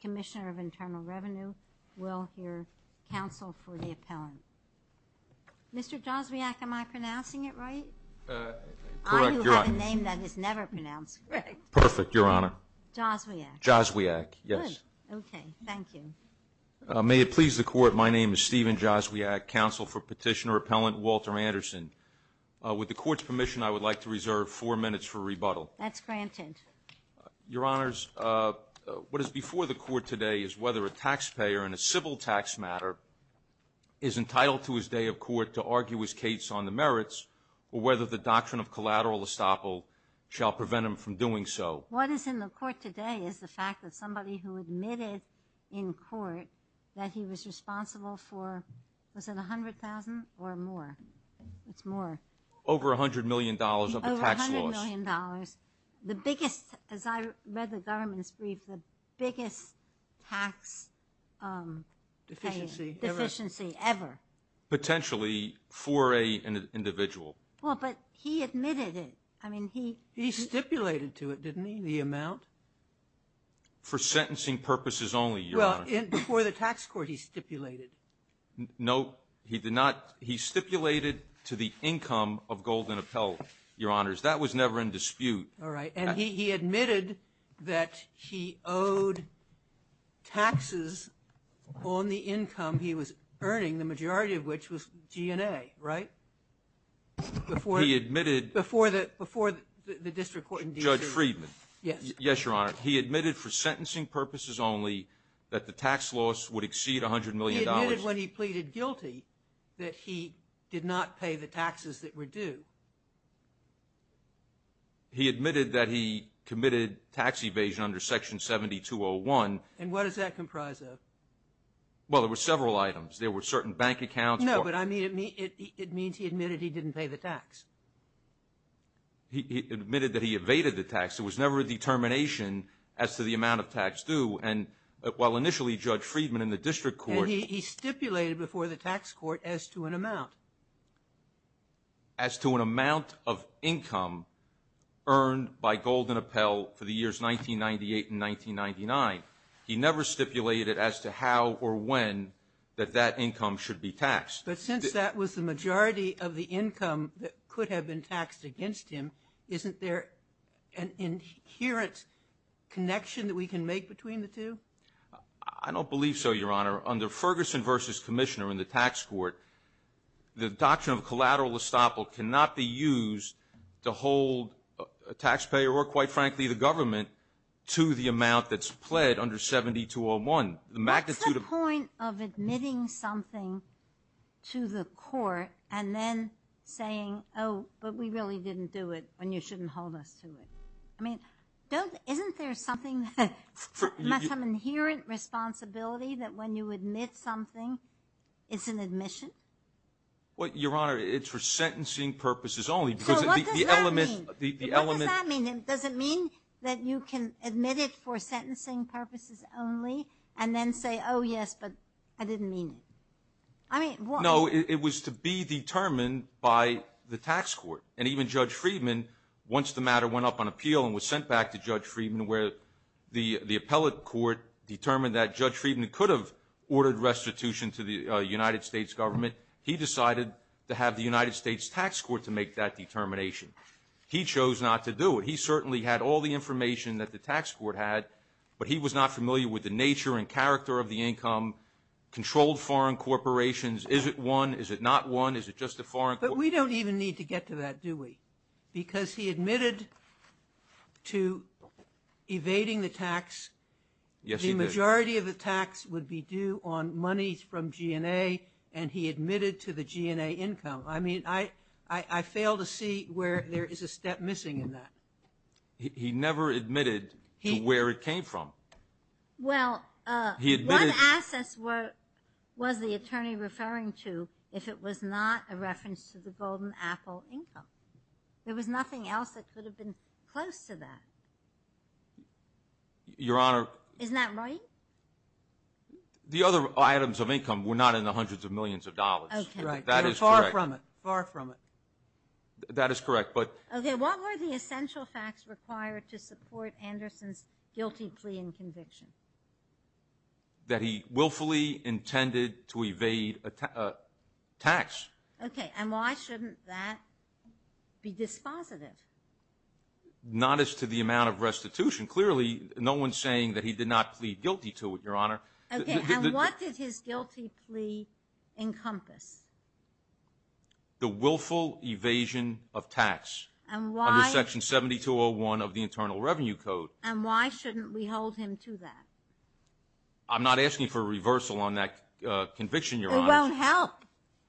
Commissioner of Internal Revenue will hear counsel for the appellant. Mr. Joswiak am I pronouncing it right? Correct. I do have a name that is never pronounced correct. Perfect your honor. Joswiak. Joswiak yes. Okay thank you. May it please the court my name is Steven Joswiak counsel for petitioner appellant Walter Anderson. With the court's permission I would like to reserve four minutes for rebuttal. That's for the court today is whether a taxpayer in a civil tax matter is entitled to his day of court to argue his case on the merits or whether the doctrine of collateral estoppel shall prevent him from doing so. What is in the court today is the fact that somebody who admitted in court that he was responsible for was it a hundred thousand or more? It's more. Over a hundred million dollars of the tax laws. Over a hundred million dollars. The biggest as I read the government's brief the biggest tax. Deficiency. Deficiency ever. Potentially for an individual. Well but he admitted it I mean he. He stipulated to it didn't he the amount? For sentencing purposes only your honor. Well before the tax court he stipulated. No he did not he stipulated to the income of Golden Appel your honors that was never in dispute. All right and he admitted that he owed taxes on the income he was earning the majority of which was G&A right? Before he admitted. Before the before the district court. Judge Friedman. Yes. Yes your honor he admitted for sentencing purposes only that the tax loss would exceed a hundred million dollars. He admitted when he pleaded guilty that he did not pay the taxes that were due. He admitted that he committed tax evasion under section 7201. And what does that comprise of? Well there were several items there were certain bank accounts. No but I mean it means he admitted he didn't pay the tax. He admitted that he evaded the tax it was never a determination as to the amount of tax due and while initially Judge Friedman in the district court. He to an amount of income earned by Golden Appel for the years 1998 and 1999. He never stipulated as to how or when that that income should be taxed. But since that was the majority of the income that could have been taxed against him isn't there an inherent connection that we can make between the two? I don't believe so your honor under Ferguson versus Commissioner in the tax court the doctrine of collateral estoppel cannot be used to hold a taxpayer or quite frankly the government to the amount that's pled under 7201. The magnitude of point of admitting something to the court and then saying oh but we really didn't do it and you shouldn't hold us to it. I mean don't isn't there something that must have inherent responsibility that when you admit something it's an admission? What your honor it's for sentencing purposes only because the element doesn't mean that you can admit it for sentencing purposes only and then say oh yes but I didn't mean it. I mean no it was to be determined by the tax court and even Judge Friedman once the matter went up on appeal and was sent back to Judge Friedman where the the appellate court determined that Judge Friedman could have ordered restitution to the United States government. He decided to have the United States Tax Court to make that determination. He chose not to do it. He certainly had all the information that the tax court had but he was not familiar with the nature and character of the income controlled foreign corporations. Is it one? Is it not one? Is it just a foreign? But we don't even need to get to that do we? Because he admitted to evading the tax. Yes he did. The majority of the tax would be due on monies from GNA and he admitted to the GNA income. I mean I I fail to see where there is a step missing in that. He never admitted where it came from. Well he admitted. What assets was the attorney referring to if it was not a reference to the Golden Apple income? There was nothing else that could have been close to that. Your Honor. Isn't that right? The other items of income were not in the hundreds of millions of dollars. Far from it. Far from it. That is correct but. Okay what were the essential facts required to support Anderson's guilty plea and conviction? That he willfully intended to evade a tax. Okay and why shouldn't that be dispositive? Not as to the amount of restitution. Clearly no one's saying that he did not plead guilty to it Your Honor. Okay and what did his guilty plea encompass? The willful evasion of tax. And why? Under section 7201 of the Internal Revenue Code. And why shouldn't we hold him to that? I'm not asking for a reversal on that conviction Your Honor. It won't help.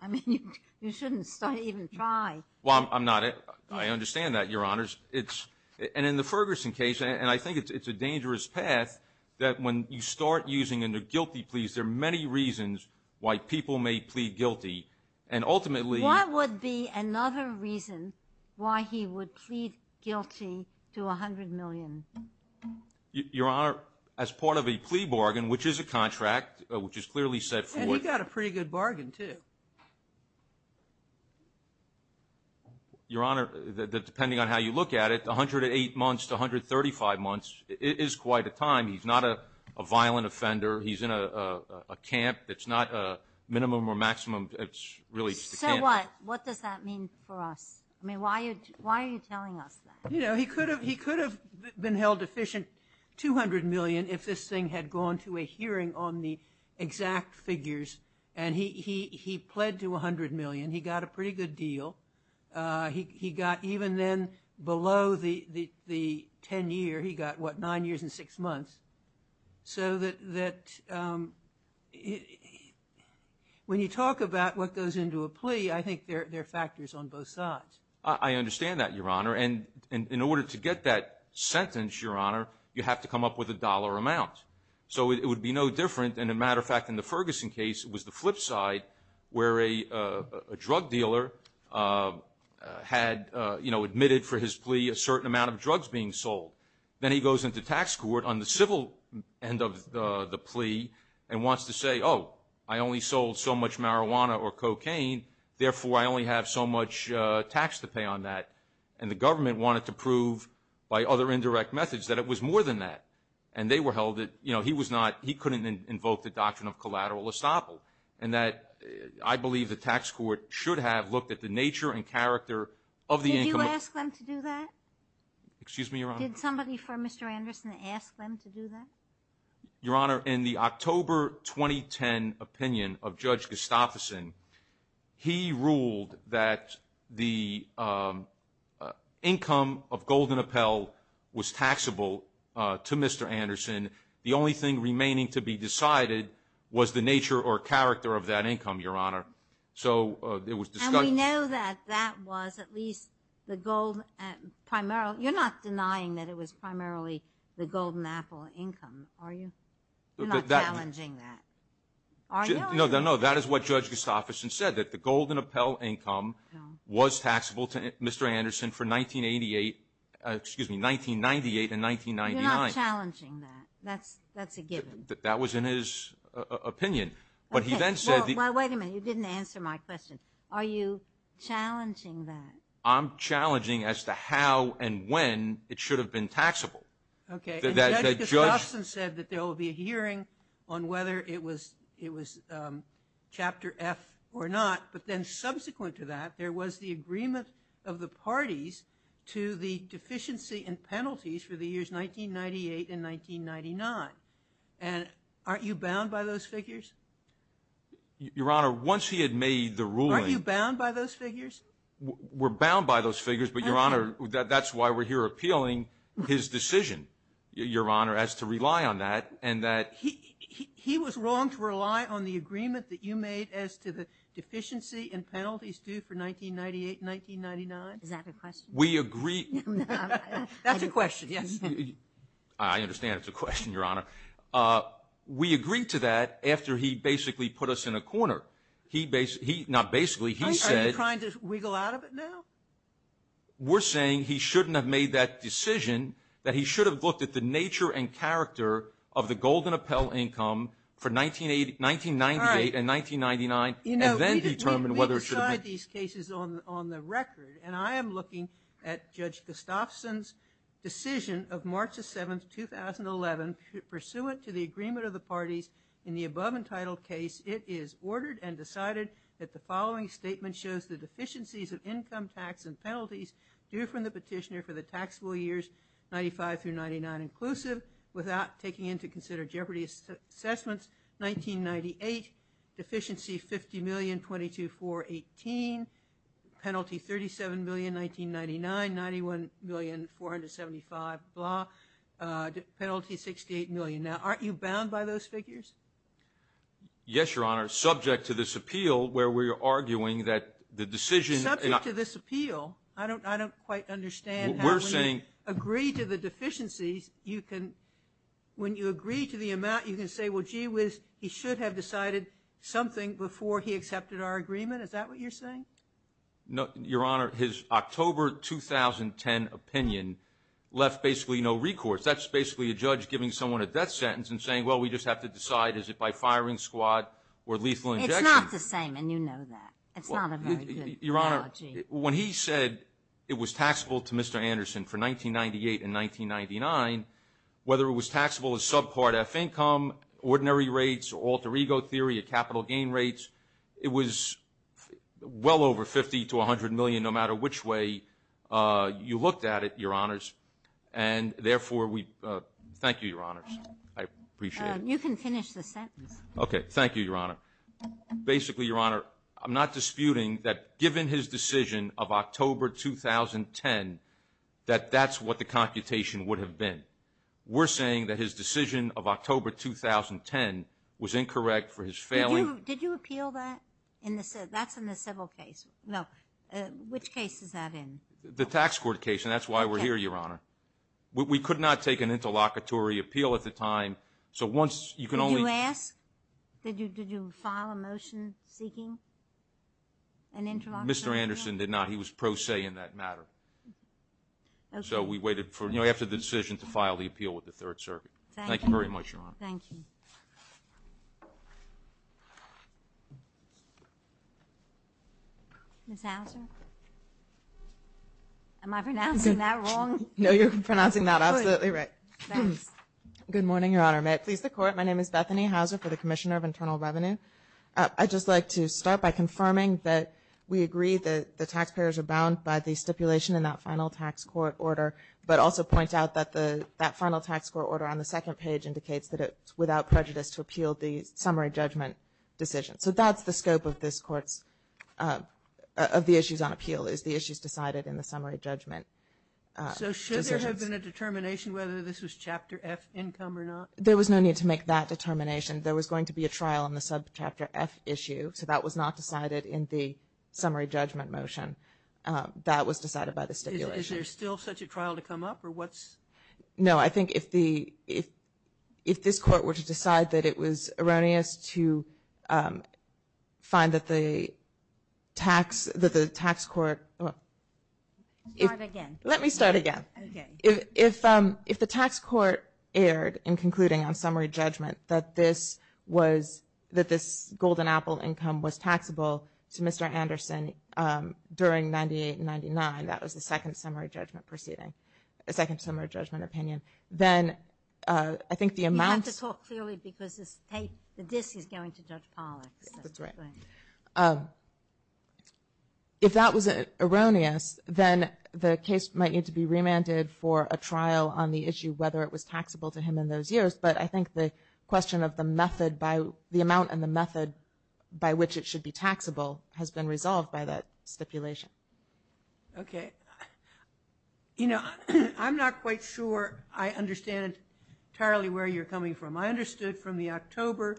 I mean you shouldn't even try. Well I'm not. I understand that Your Honor. It's and in the Ferguson case and I think it's a dangerous path that when you start using under guilty pleas there are many reasons why people may plead guilty and ultimately. What would be another reason why he would plead guilty to a hundred million? Your Honor as part of a plea bargain which is a contract which is clearly set forth. And he got a pretty good bargain too. Your Honor that depending on how you look at it 108 months to 135 months it is quite a time. He's not a violent offender. He's in a camp. It's not a minimum or maximum. It's really just a camp. So what? What does that mean for us? I mean why are you why are you telling us that? You know he could have he could have been held deficient 200 million if this thing had gone to a hearing on the exact figures and he he he pled to a hundred million. He got a pretty good deal. He got even then below the the ten year he got what nine years and six months. So that that when you talk about what goes into a plea I think there are factors on both sides. I understand that Your Honor and in order to get that sentence Your Honor you have to come up with a dollar amount. So it would be no different and a matter of fact in the Ferguson case it was the flip side where a drug dealer had you know admitted for his plea a certain amount of drugs being sold. Then he goes into tax court on the civil end of the plea and wants to say oh I only sold so much marijuana or cocaine therefore I only have so much tax to pay on that. And the government wanted to prove by other indirect methods that it was more than that. And they were held that you know he was not he couldn't invoke the doctrine of collateral estoppel. And that I believe the tax court should have looked at the nature and character of the income. Did you ask them to do that? Excuse me Your Honor. Did somebody from Mr. Anderson ask them to do that? Your Honor in the October 2010 opinion of Judge Gustafsson he ruled that the income of Golden Appel was taxable to Mr. Anderson. The only thing remaining to be decided was the nature or character of that income Your Honor. So it was. And we know that that was at least the gold primarily you're not denying that it was primarily the Golden Apple income are you? You're not challenging that. No that is what Judge Gustafsson said that the You're not challenging that. That's that's a given. That was in his opinion. But he then said Well wait a minute. You didn't answer my question. Are you challenging that? I'm challenging as to how and when it should have been taxable. Okay. Judge Gustafsson said that there will be a hearing on whether it was it was chapter F or not. But then subsequent to there was the agreement of the parties to the deficiency and penalties for the years 1998 and 1999. And aren't you bound by those figures? Your Honor once he had made the ruling. Aren't you bound by those figures? We're bound by those figures but Your Honor that's why we're here appealing his decision Your Honor as to rely on that and that. He was wrong to rely on the 1998-1999. Is that a question? We agree. That's a question yes. I understand it's a question Your Honor. We agreed to that after he basically put us in a corner. He basically not basically he said Are you trying to wiggle out of it now? We're saying he shouldn't have made that decision that he should have looked at the nature and character of the Golden Apple income for 1998 and 1999 and then determine whether it should have been. We decide these cases on the record and I am looking at Judge Gustafsson's decision of March the 7th 2011 pursuant to the agreement of the parties in the above entitled case it is ordered and decided that the following statement shows the deficiencies of income tax and penalties due from the petitioner for the taxable years 95 through 99 inclusive without taking into consider jeopardy assessments 1998 deficiency 50 million 22 for 18 penalty 37 million 1999 91 million 475 blah penalty 68 million now aren't you bound by those figures yes Your Honor subject to this appeal where we are arguing that the decision to this appeal I don't I don't quite understand we're saying agree to the deficiencies you can when you agree to the amount you can say well gee whiz he should have decided something before he accepted our agreement is that what you're saying no Your Honor his October 2010 opinion left basically no recourse that's basically a judge giving someone a death sentence and saying well we just have to decide is it by firing squad when he said it was taxable to mr. Anderson for 1998 in 1999 whether it was taxable as subpart F income ordinary rates alter ego theory a capital gain rates it was well over 50 to 100 million no matter which way you looked at it your honors and therefore we thank you your honors I appreciate okay thank you your honor basically your honor I'm not disputing that given his decision of October 2010 that that's what the computation would have been we're saying that his decision of October 2010 was incorrect for his family did you appeal that in this that's in the civil case no which case is that in the tax court case and that's why we're here your honor we could not take an interlocutory appeal at the time so once you can only ask did you did you file a motion seeking an interlock mr. Anderson did not he was pro se in that matter so we waited for you know after the decision to file the appeal with the Third Circuit thank you very much your honor thank you am I pronouncing that wrong no you're pronouncing that absolutely right good morning your honor may it please the court my name is Bethany Hauser for the Commissioner of Internal Revenue I just like to start by confirming that we agree that the taxpayers are bound by the stipulation in that final tax court order but also point out that the that final tax court order on the second page indicates that it's without prejudice to appeal the summary judgment decision so that's the scope of this courts of the issues on appeal is the issues decided in the summary judgment there was no need to make that determination there was going to be a trial on the sub chapter F issue so that was not decided in the summary judgment motion that was decided by the stipulation is there still such a trial to come up or what's no I think if the if if this court were to decide that it was erroneous to find that the tax that the tax court let me start again if if the tax court erred in concluding on summary judgment that this was that this golden apple income was taxable to mr. Anderson during 98 99 that was the second summary judgment proceeding a second if that was erroneous then the case might need to be remanded for a trial on the issue whether it was taxable to him in those years but I think the question of the method by the amount and the method by which it should be taxable has been resolved by that stipulation okay you know I'm not quite sure I understand entirely where you're coming from I understood from the October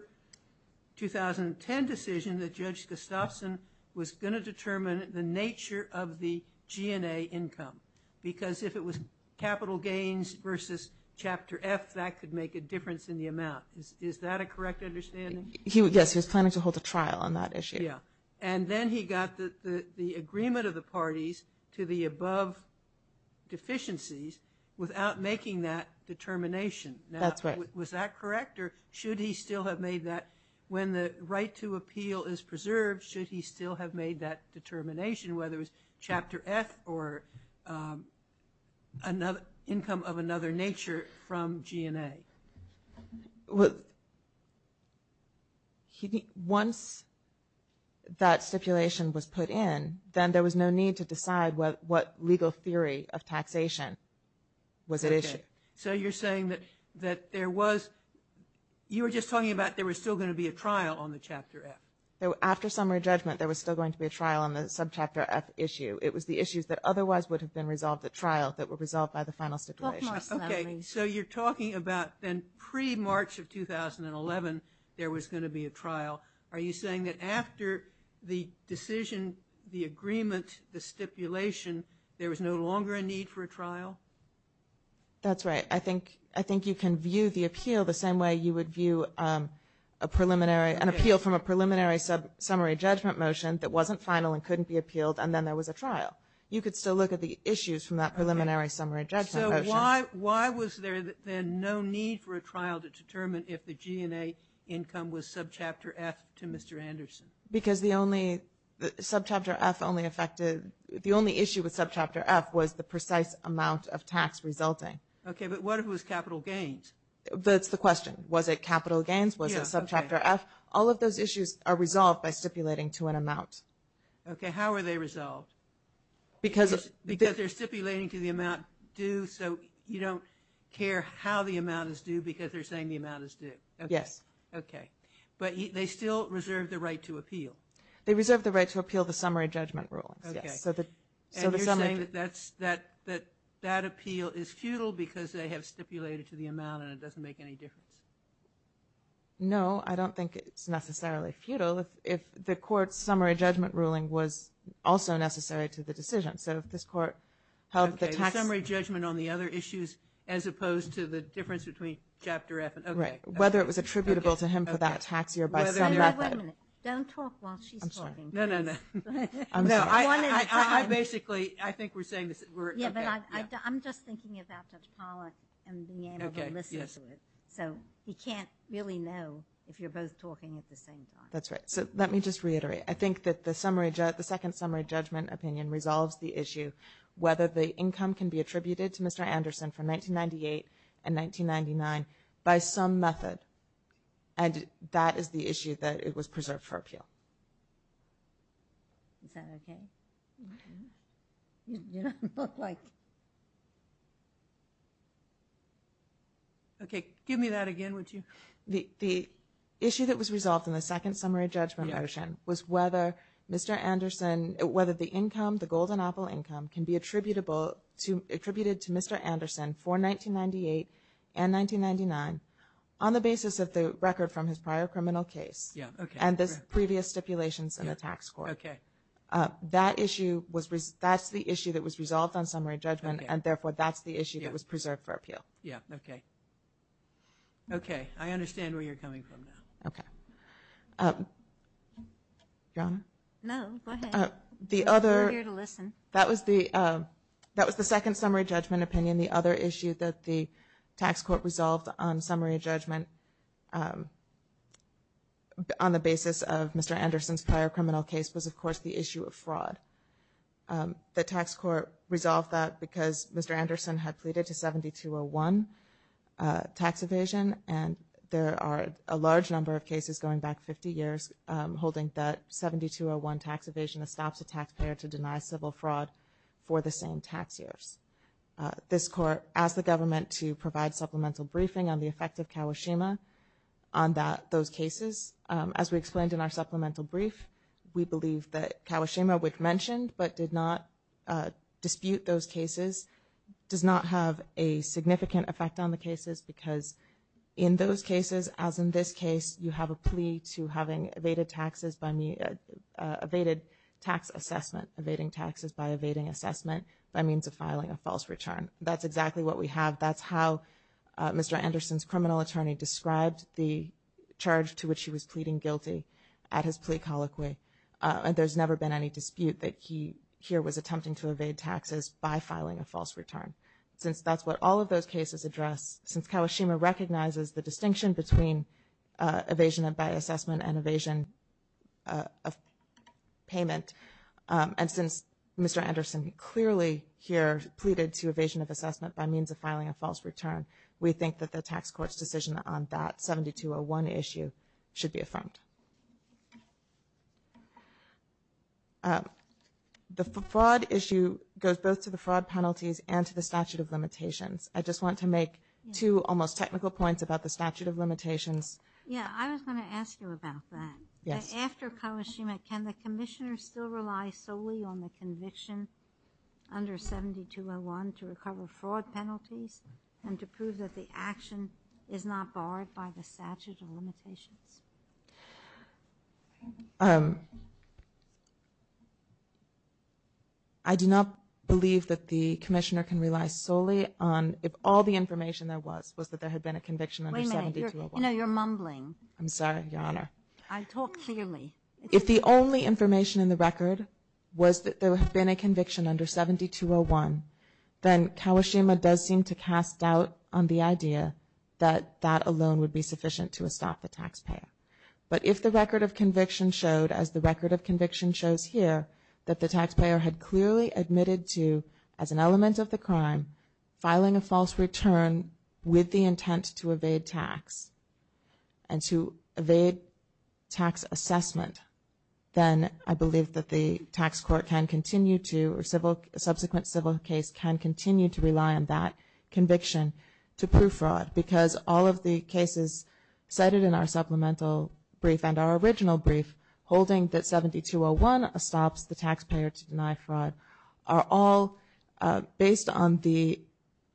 2010 decision that judge Gustafson was going to determine the nature of the GNA income because if it was capital gains versus chapter F that could make a difference in the amount is that a correct understanding he would guess he was planning to hold a trial on that issue yeah and then he got the agreement of the parties to the above deficiencies without making that determination that's right was that correct or should he still have made that when the right to appeal is preserved should he still have made that determination whether it was chapter F or another income of put in then there was no need to decide what what legal theory of taxation was it is so you're saying that that there was you were just talking about there was still going to be a trial on the chapter F there were after summary judgment there was still going to be a trial on the sub chapter F issue it was the issues that otherwise would have been resolved at trial that were resolved by the final stipulation okay so you're talking about then pre March of 2011 there was going to decision the agreement the stipulation there was no longer a need for a trial that's right I think I think you can view the appeal the same way you would view a preliminary an appeal from a preliminary sub summary judgment motion that wasn't final and couldn't be appealed and then there was a trial you could still look at the issues from that preliminary summary judgment why why was there then no need for a trial to determine if the GNA income was sub chapter F to Mr. Anderson because the only the sub chapter F only affected the only issue with sub chapter F was the precise amount of tax resulting okay but what if it was capital gains that's the question was it capital gains was a sub chapter F all of those issues are resolved by stipulating to an amount okay how are they resolved because it's because they're stipulating to the amount due so you don't care how the amount is due because they're saying the amount is due yes okay but they still reserve the right to appeal they reserve the right to appeal the summary judgment ruling yes so that that's that that that appeal is futile because they have stipulated to the amount and it doesn't make any difference no I don't think it's necessarily futile if the court summary judgment ruling was also necessary to the decision so if this court held the summary judgment on the other issues as opposed to the difference between chapter F and right whether it was attributable to him for that tax year basically I think we're saying this I'm just thinking about so you can't really know if you're both talking at the same time that's right so let me just reiterate I think that the summary judge the second summary judgment opinion resolves the issue whether the income can be attributed to mr. Anderson from 1998 and 1999 by some method and that is the issue that it was preserved for appeal okay give me that again would you the issue that was resolved in the second summary judgment motion was whether mr. Anderson whether the income the golden apple income can be attributable to attributed to mr. Anderson for 1998 and 1999 on the basis of the record from his prior criminal case yeah and this previous stipulations in the tax court okay that issue was that's the issue that was resolved on summary judgment and therefore that's the issue that was preserved for appeal yeah okay okay I understand where you're coming from now okay John the other to listen that was the that was the second summary judgment opinion the other issue that the tax court resolved on summary judgment on the basis of mr. Anderson's prior criminal case was of course the issue of fraud the tax court resolved that because mr. Anderson had pleaded to 7201 tax evasion and there are a large number of cases going back 50 years holding that 7201 tax evasion that stops a taxpayer to deny civil fraud for the same tax years this court asked the government to provide supplemental briefing on the effect of Kawashima on that those cases as we explained in our supplemental brief we believe that Kawashima which mentioned but did not dispute those cases does not have a significant effect on the cases because in those cases as in this case you have a plea to having evaded taxes by me evaded tax assessment evading taxes by evading assessment by means of filing a false return that's exactly what we have that's how mr. Anderson's criminal attorney described the charge to which he was pleading guilty at his plea colloquy and there's never been any dispute that he here was attempting to evade taxes by filing a false return since that's what all of those cases address since Kawashima recognizes the distinction between evasion and by assessment and evasion of payment and since mr. Anderson clearly here pleaded to evasion of assessment by means of filing a false return we think that the tax court's decision on that 7201 issue should be affirmed the fraud issue goes both to the fraud penalties and to the statute of limitations I just want to make two almost technical points about the statute of limitations yeah I was going to ask you about that yes after Kawashima can the Commissioner still rely solely on the conviction under 7201 to recover fraud penalties and to prove that the action is not barred by the statute of limitations I do not believe that the Commissioner can rely solely on if all the information there was was that there had been a conviction I'm sorry your honor I talked clearly if the only information in the record was that there have been a conviction under 7201 then Kawashima does seem to cast doubt on the idea that that alone would be sufficient to a stop the taxpayer but if the record of conviction showed as the record of conviction shows here that the taxpayer had clearly admitted to as an element of the crime filing a false return with the intent to evade tax and to evade tax assessment then I believe that the tax court can continue to or civil subsequent civil case can continue to rely on that conviction to prove fraud because all of the cases cited in our supplemental brief and our on the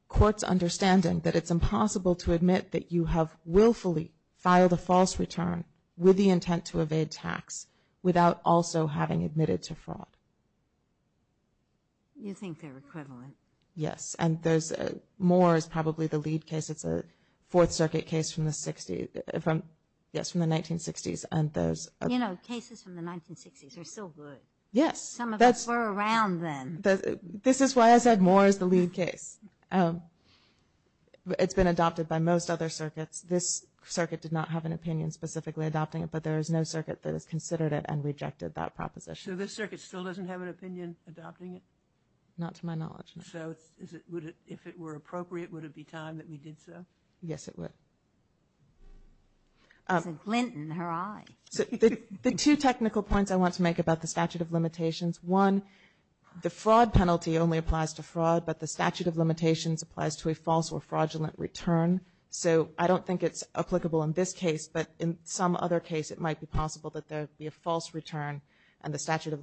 court's understanding that it's impossible to admit that you have willfully filed a false return with the intent to evade tax without also having admitted to fraud yes and there's more is probably the lead case it's a Fourth Circuit case from the 60s from yes from the 1960s and those you know cases from the 1960s are still good yes that's we're around then this is why I said more is the lead case it's been adopted by most other circuits this circuit did not have an opinion specifically adopting it but there is no circuit that has considered it and rejected that proposition this circuit still doesn't have an opinion adopting it not to my knowledge so if it were appropriate would it be time that we did so yes it would Clinton her I the two technical points I want to make about the statute of limitations one the fraud penalty only applies to fraud but the statute of limitations applies to a false or fraudulent return so I don't think it's applicable in this case but in some other case it might be possible that there be a false return and the statute of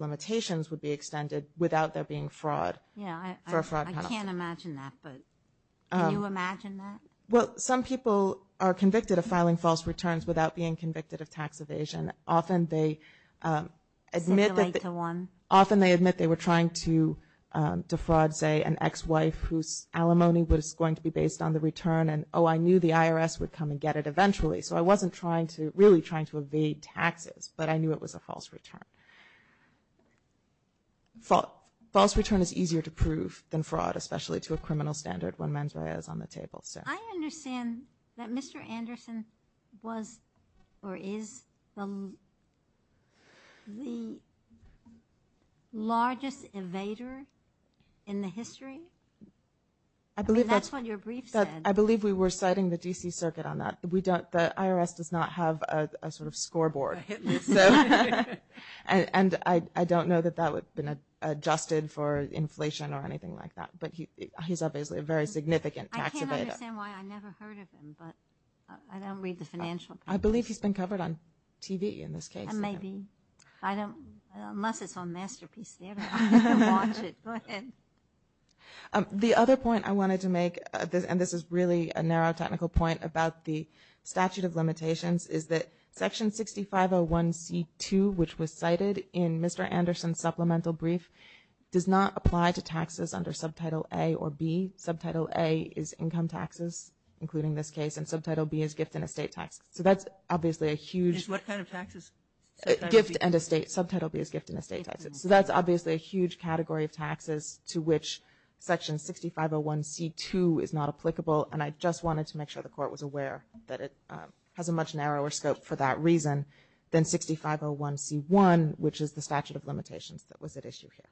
well some people are convicted of filing false returns without being convicted of tax evasion often they admit that the one often they admit they were trying to defraud say an ex-wife whose alimony was going to be based on the return and oh I knew the IRS would come and get it eventually so I wasn't trying to really trying to evade taxes but I knew it was a false return fault false return is easier to prove than fraud especially to a criminal standard when mens rea is on the table so I understand that mr. Anderson was or is the the largest invader in the history I believe that's what your brief said I believe we were citing the DC Circuit on that we don't the IRS does not have a sort of scoreboard and I don't know that that would been adjusted for inflation or anything like that but he's obviously a very significant I believe he's been covered on TV in this case maybe I don't unless it's on Masterpiece Theater the other point I wanted to make this and this is really a narrow technical point about the statute of limitations is that section 6501 c2 which was cited in mr. Anderson supplemental brief does not apply to taxes under subtitle A or B subtitle A is income taxes including this case and subtitle B is gift in a state tax so that's obviously a huge what kind of taxes gift and estate subtitle B is gift in a state taxes so that's obviously a 6501 c2 is not applicable and I just wanted to make sure the court was aware that it has a much narrower scope for that reason than 6501 c1 which is the statute of limitations that was at issue here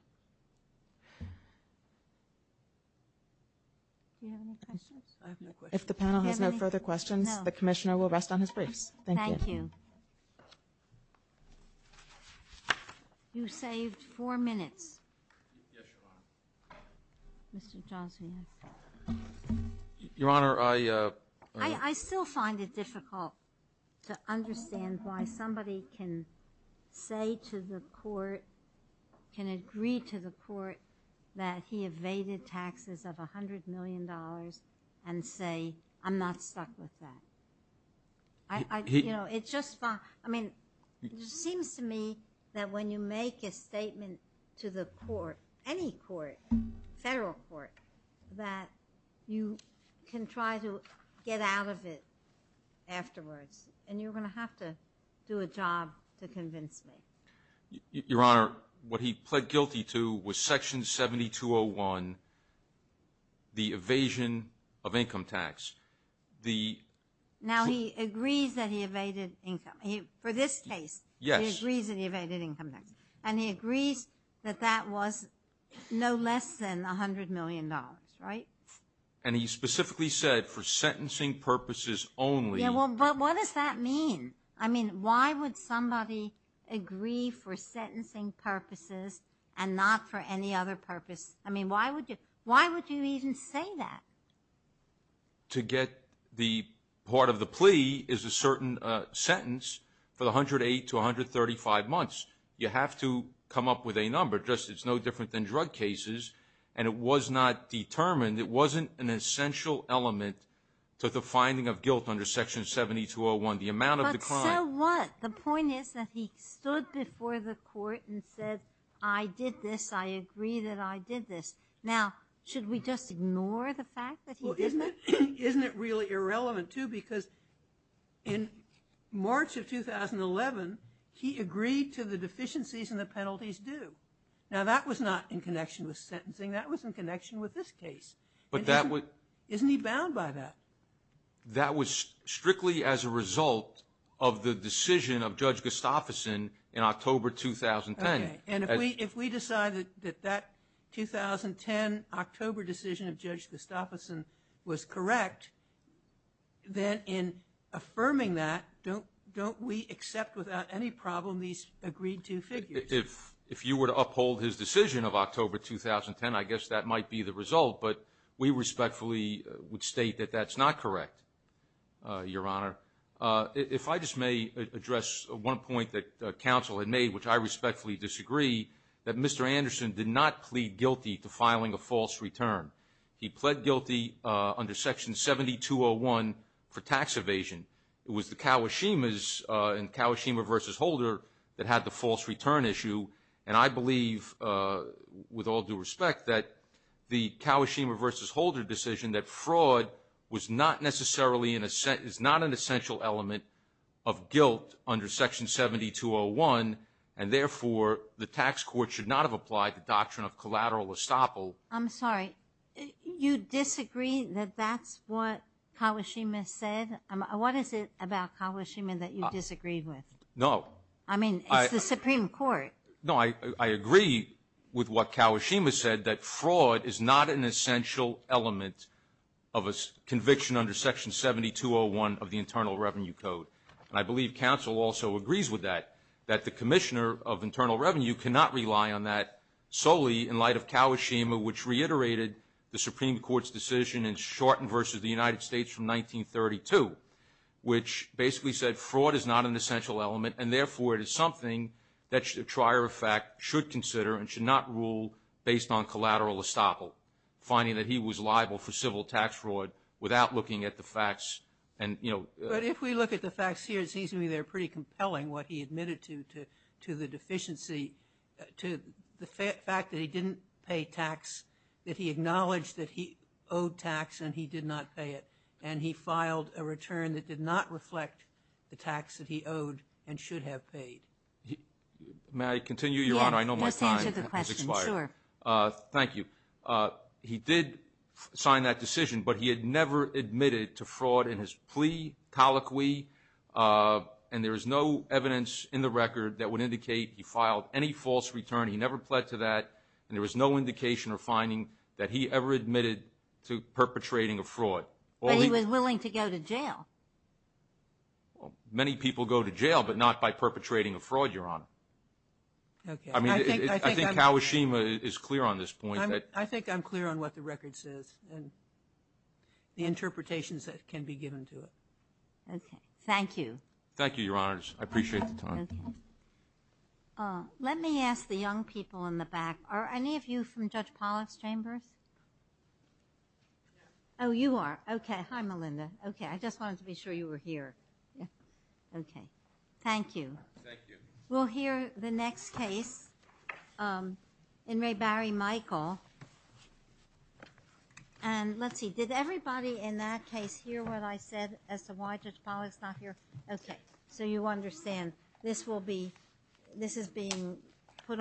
if the panel has no further questions the Commissioner will rest on his briefs thank you you saved four minutes your honor I I still find it difficult to understand why somebody can say to the court can agree to the court that he evaded taxes of a hundred million dollars and say I'm just fine I mean it seems to me that when you make a statement to the court any court federal court that you can try to get out of it afterwards and you're gonna have to do a job to convince me your honor what he pled guilty to was section 7201 the evasion of income tax the now he agrees that he evaded income he for this case yes reason he evaded income tax and he agrees that that was no less than a hundred million dollars right and he specifically said for sentencing purposes only well but what does that mean I mean why would somebody agree for sentencing purposes and not for any other purpose I mean why would you why would you even say that to get the part of the sentence for the hundred eight to 135 months you have to come up with a number just it's no different than drug cases and it was not determined it wasn't an essential element to the finding of guilt under section 7201 the amount of the client what the point is that he stood before the court and said I did this I agree that I did this now should we just ignore the fact that isn't it isn't in March of 2011 he agreed to the deficiencies and the penalties do now that was not in connection with sentencing that was in connection with this case but that would isn't he bound by that that was strictly as a result of the decision of Judge Gustafsson in October 2010 and if we if we decide that that 2010 October decision of Judge Gustafsson was correct then in affirming that don't don't we accept without any problem these agreed to figures if if you were to uphold his decision of October 2010 I guess that might be the result but we respectfully would state that that's not correct your honor if I just may address one point that counsel had made which I respectfully disagree that mr. Anderson did not plead guilty to filing a false return he pled guilty under section 7201 for tax evasion it was the Kawashima's in Kawashima vs. Holder that had the false return issue and I believe with all due respect that the Kawashima vs. Holder decision that fraud was not necessarily in a set is not an essential element of guilt under section 7201 and therefore the tax court should not have applied the doctrine of collateral estoppel I'm sorry you disagree that that's what Kawashima said what is it about Kawashima that you disagreed with no I mean I the Supreme Court no I agree with what Kawashima said that fraud is not an essential element of a conviction under section 7201 of the Internal Revenue Code and I believe counsel also agrees with that that the Commissioner of Internal Revenue cannot rely on that solely in light of Kawashima which reiterated the Supreme Court's decision and shortened versus the United States from 1932 which basically said fraud is not an essential element and therefore it is something that should a trier of fact should consider and should not rule based on collateral estoppel finding that he was liable for civil tax fraud without looking at the facts and you know if we look at the facts here it seems to me they're pretty compelling what he admitted to to the deficiency to the fact that he didn't pay tax that he acknowledged that he owed tax and he did not pay it and he filed a return that did not reflect the tax that he owed and should have paid may I continue your honor I know my time thank you he did sign that decision but he had never admitted to fraud in his plea colloquy and there is no evidence in the record that would indicate he filed any false return he never pled to that and there was no indication or finding that he ever admitted to perpetrating a fraud well he was willing to go to jail many people go to jail but not by perpetrating a fraud your honor I mean I think how Ashima is clear on this point I think I'm clear on what the record says and the interpretations that can be given to it thank you thank you your honors I appreciate the time let me ask the young people in the back are any of you from Judge Pollack's chambers oh you are okay Melinda okay I just wanted to be sure you were here yeah okay thank you we'll hear the next case in Ray Barry Michael and let's see did everybody in that case hear what I said as to why Judge Pollack's not here okay so you understand this will be this is being put on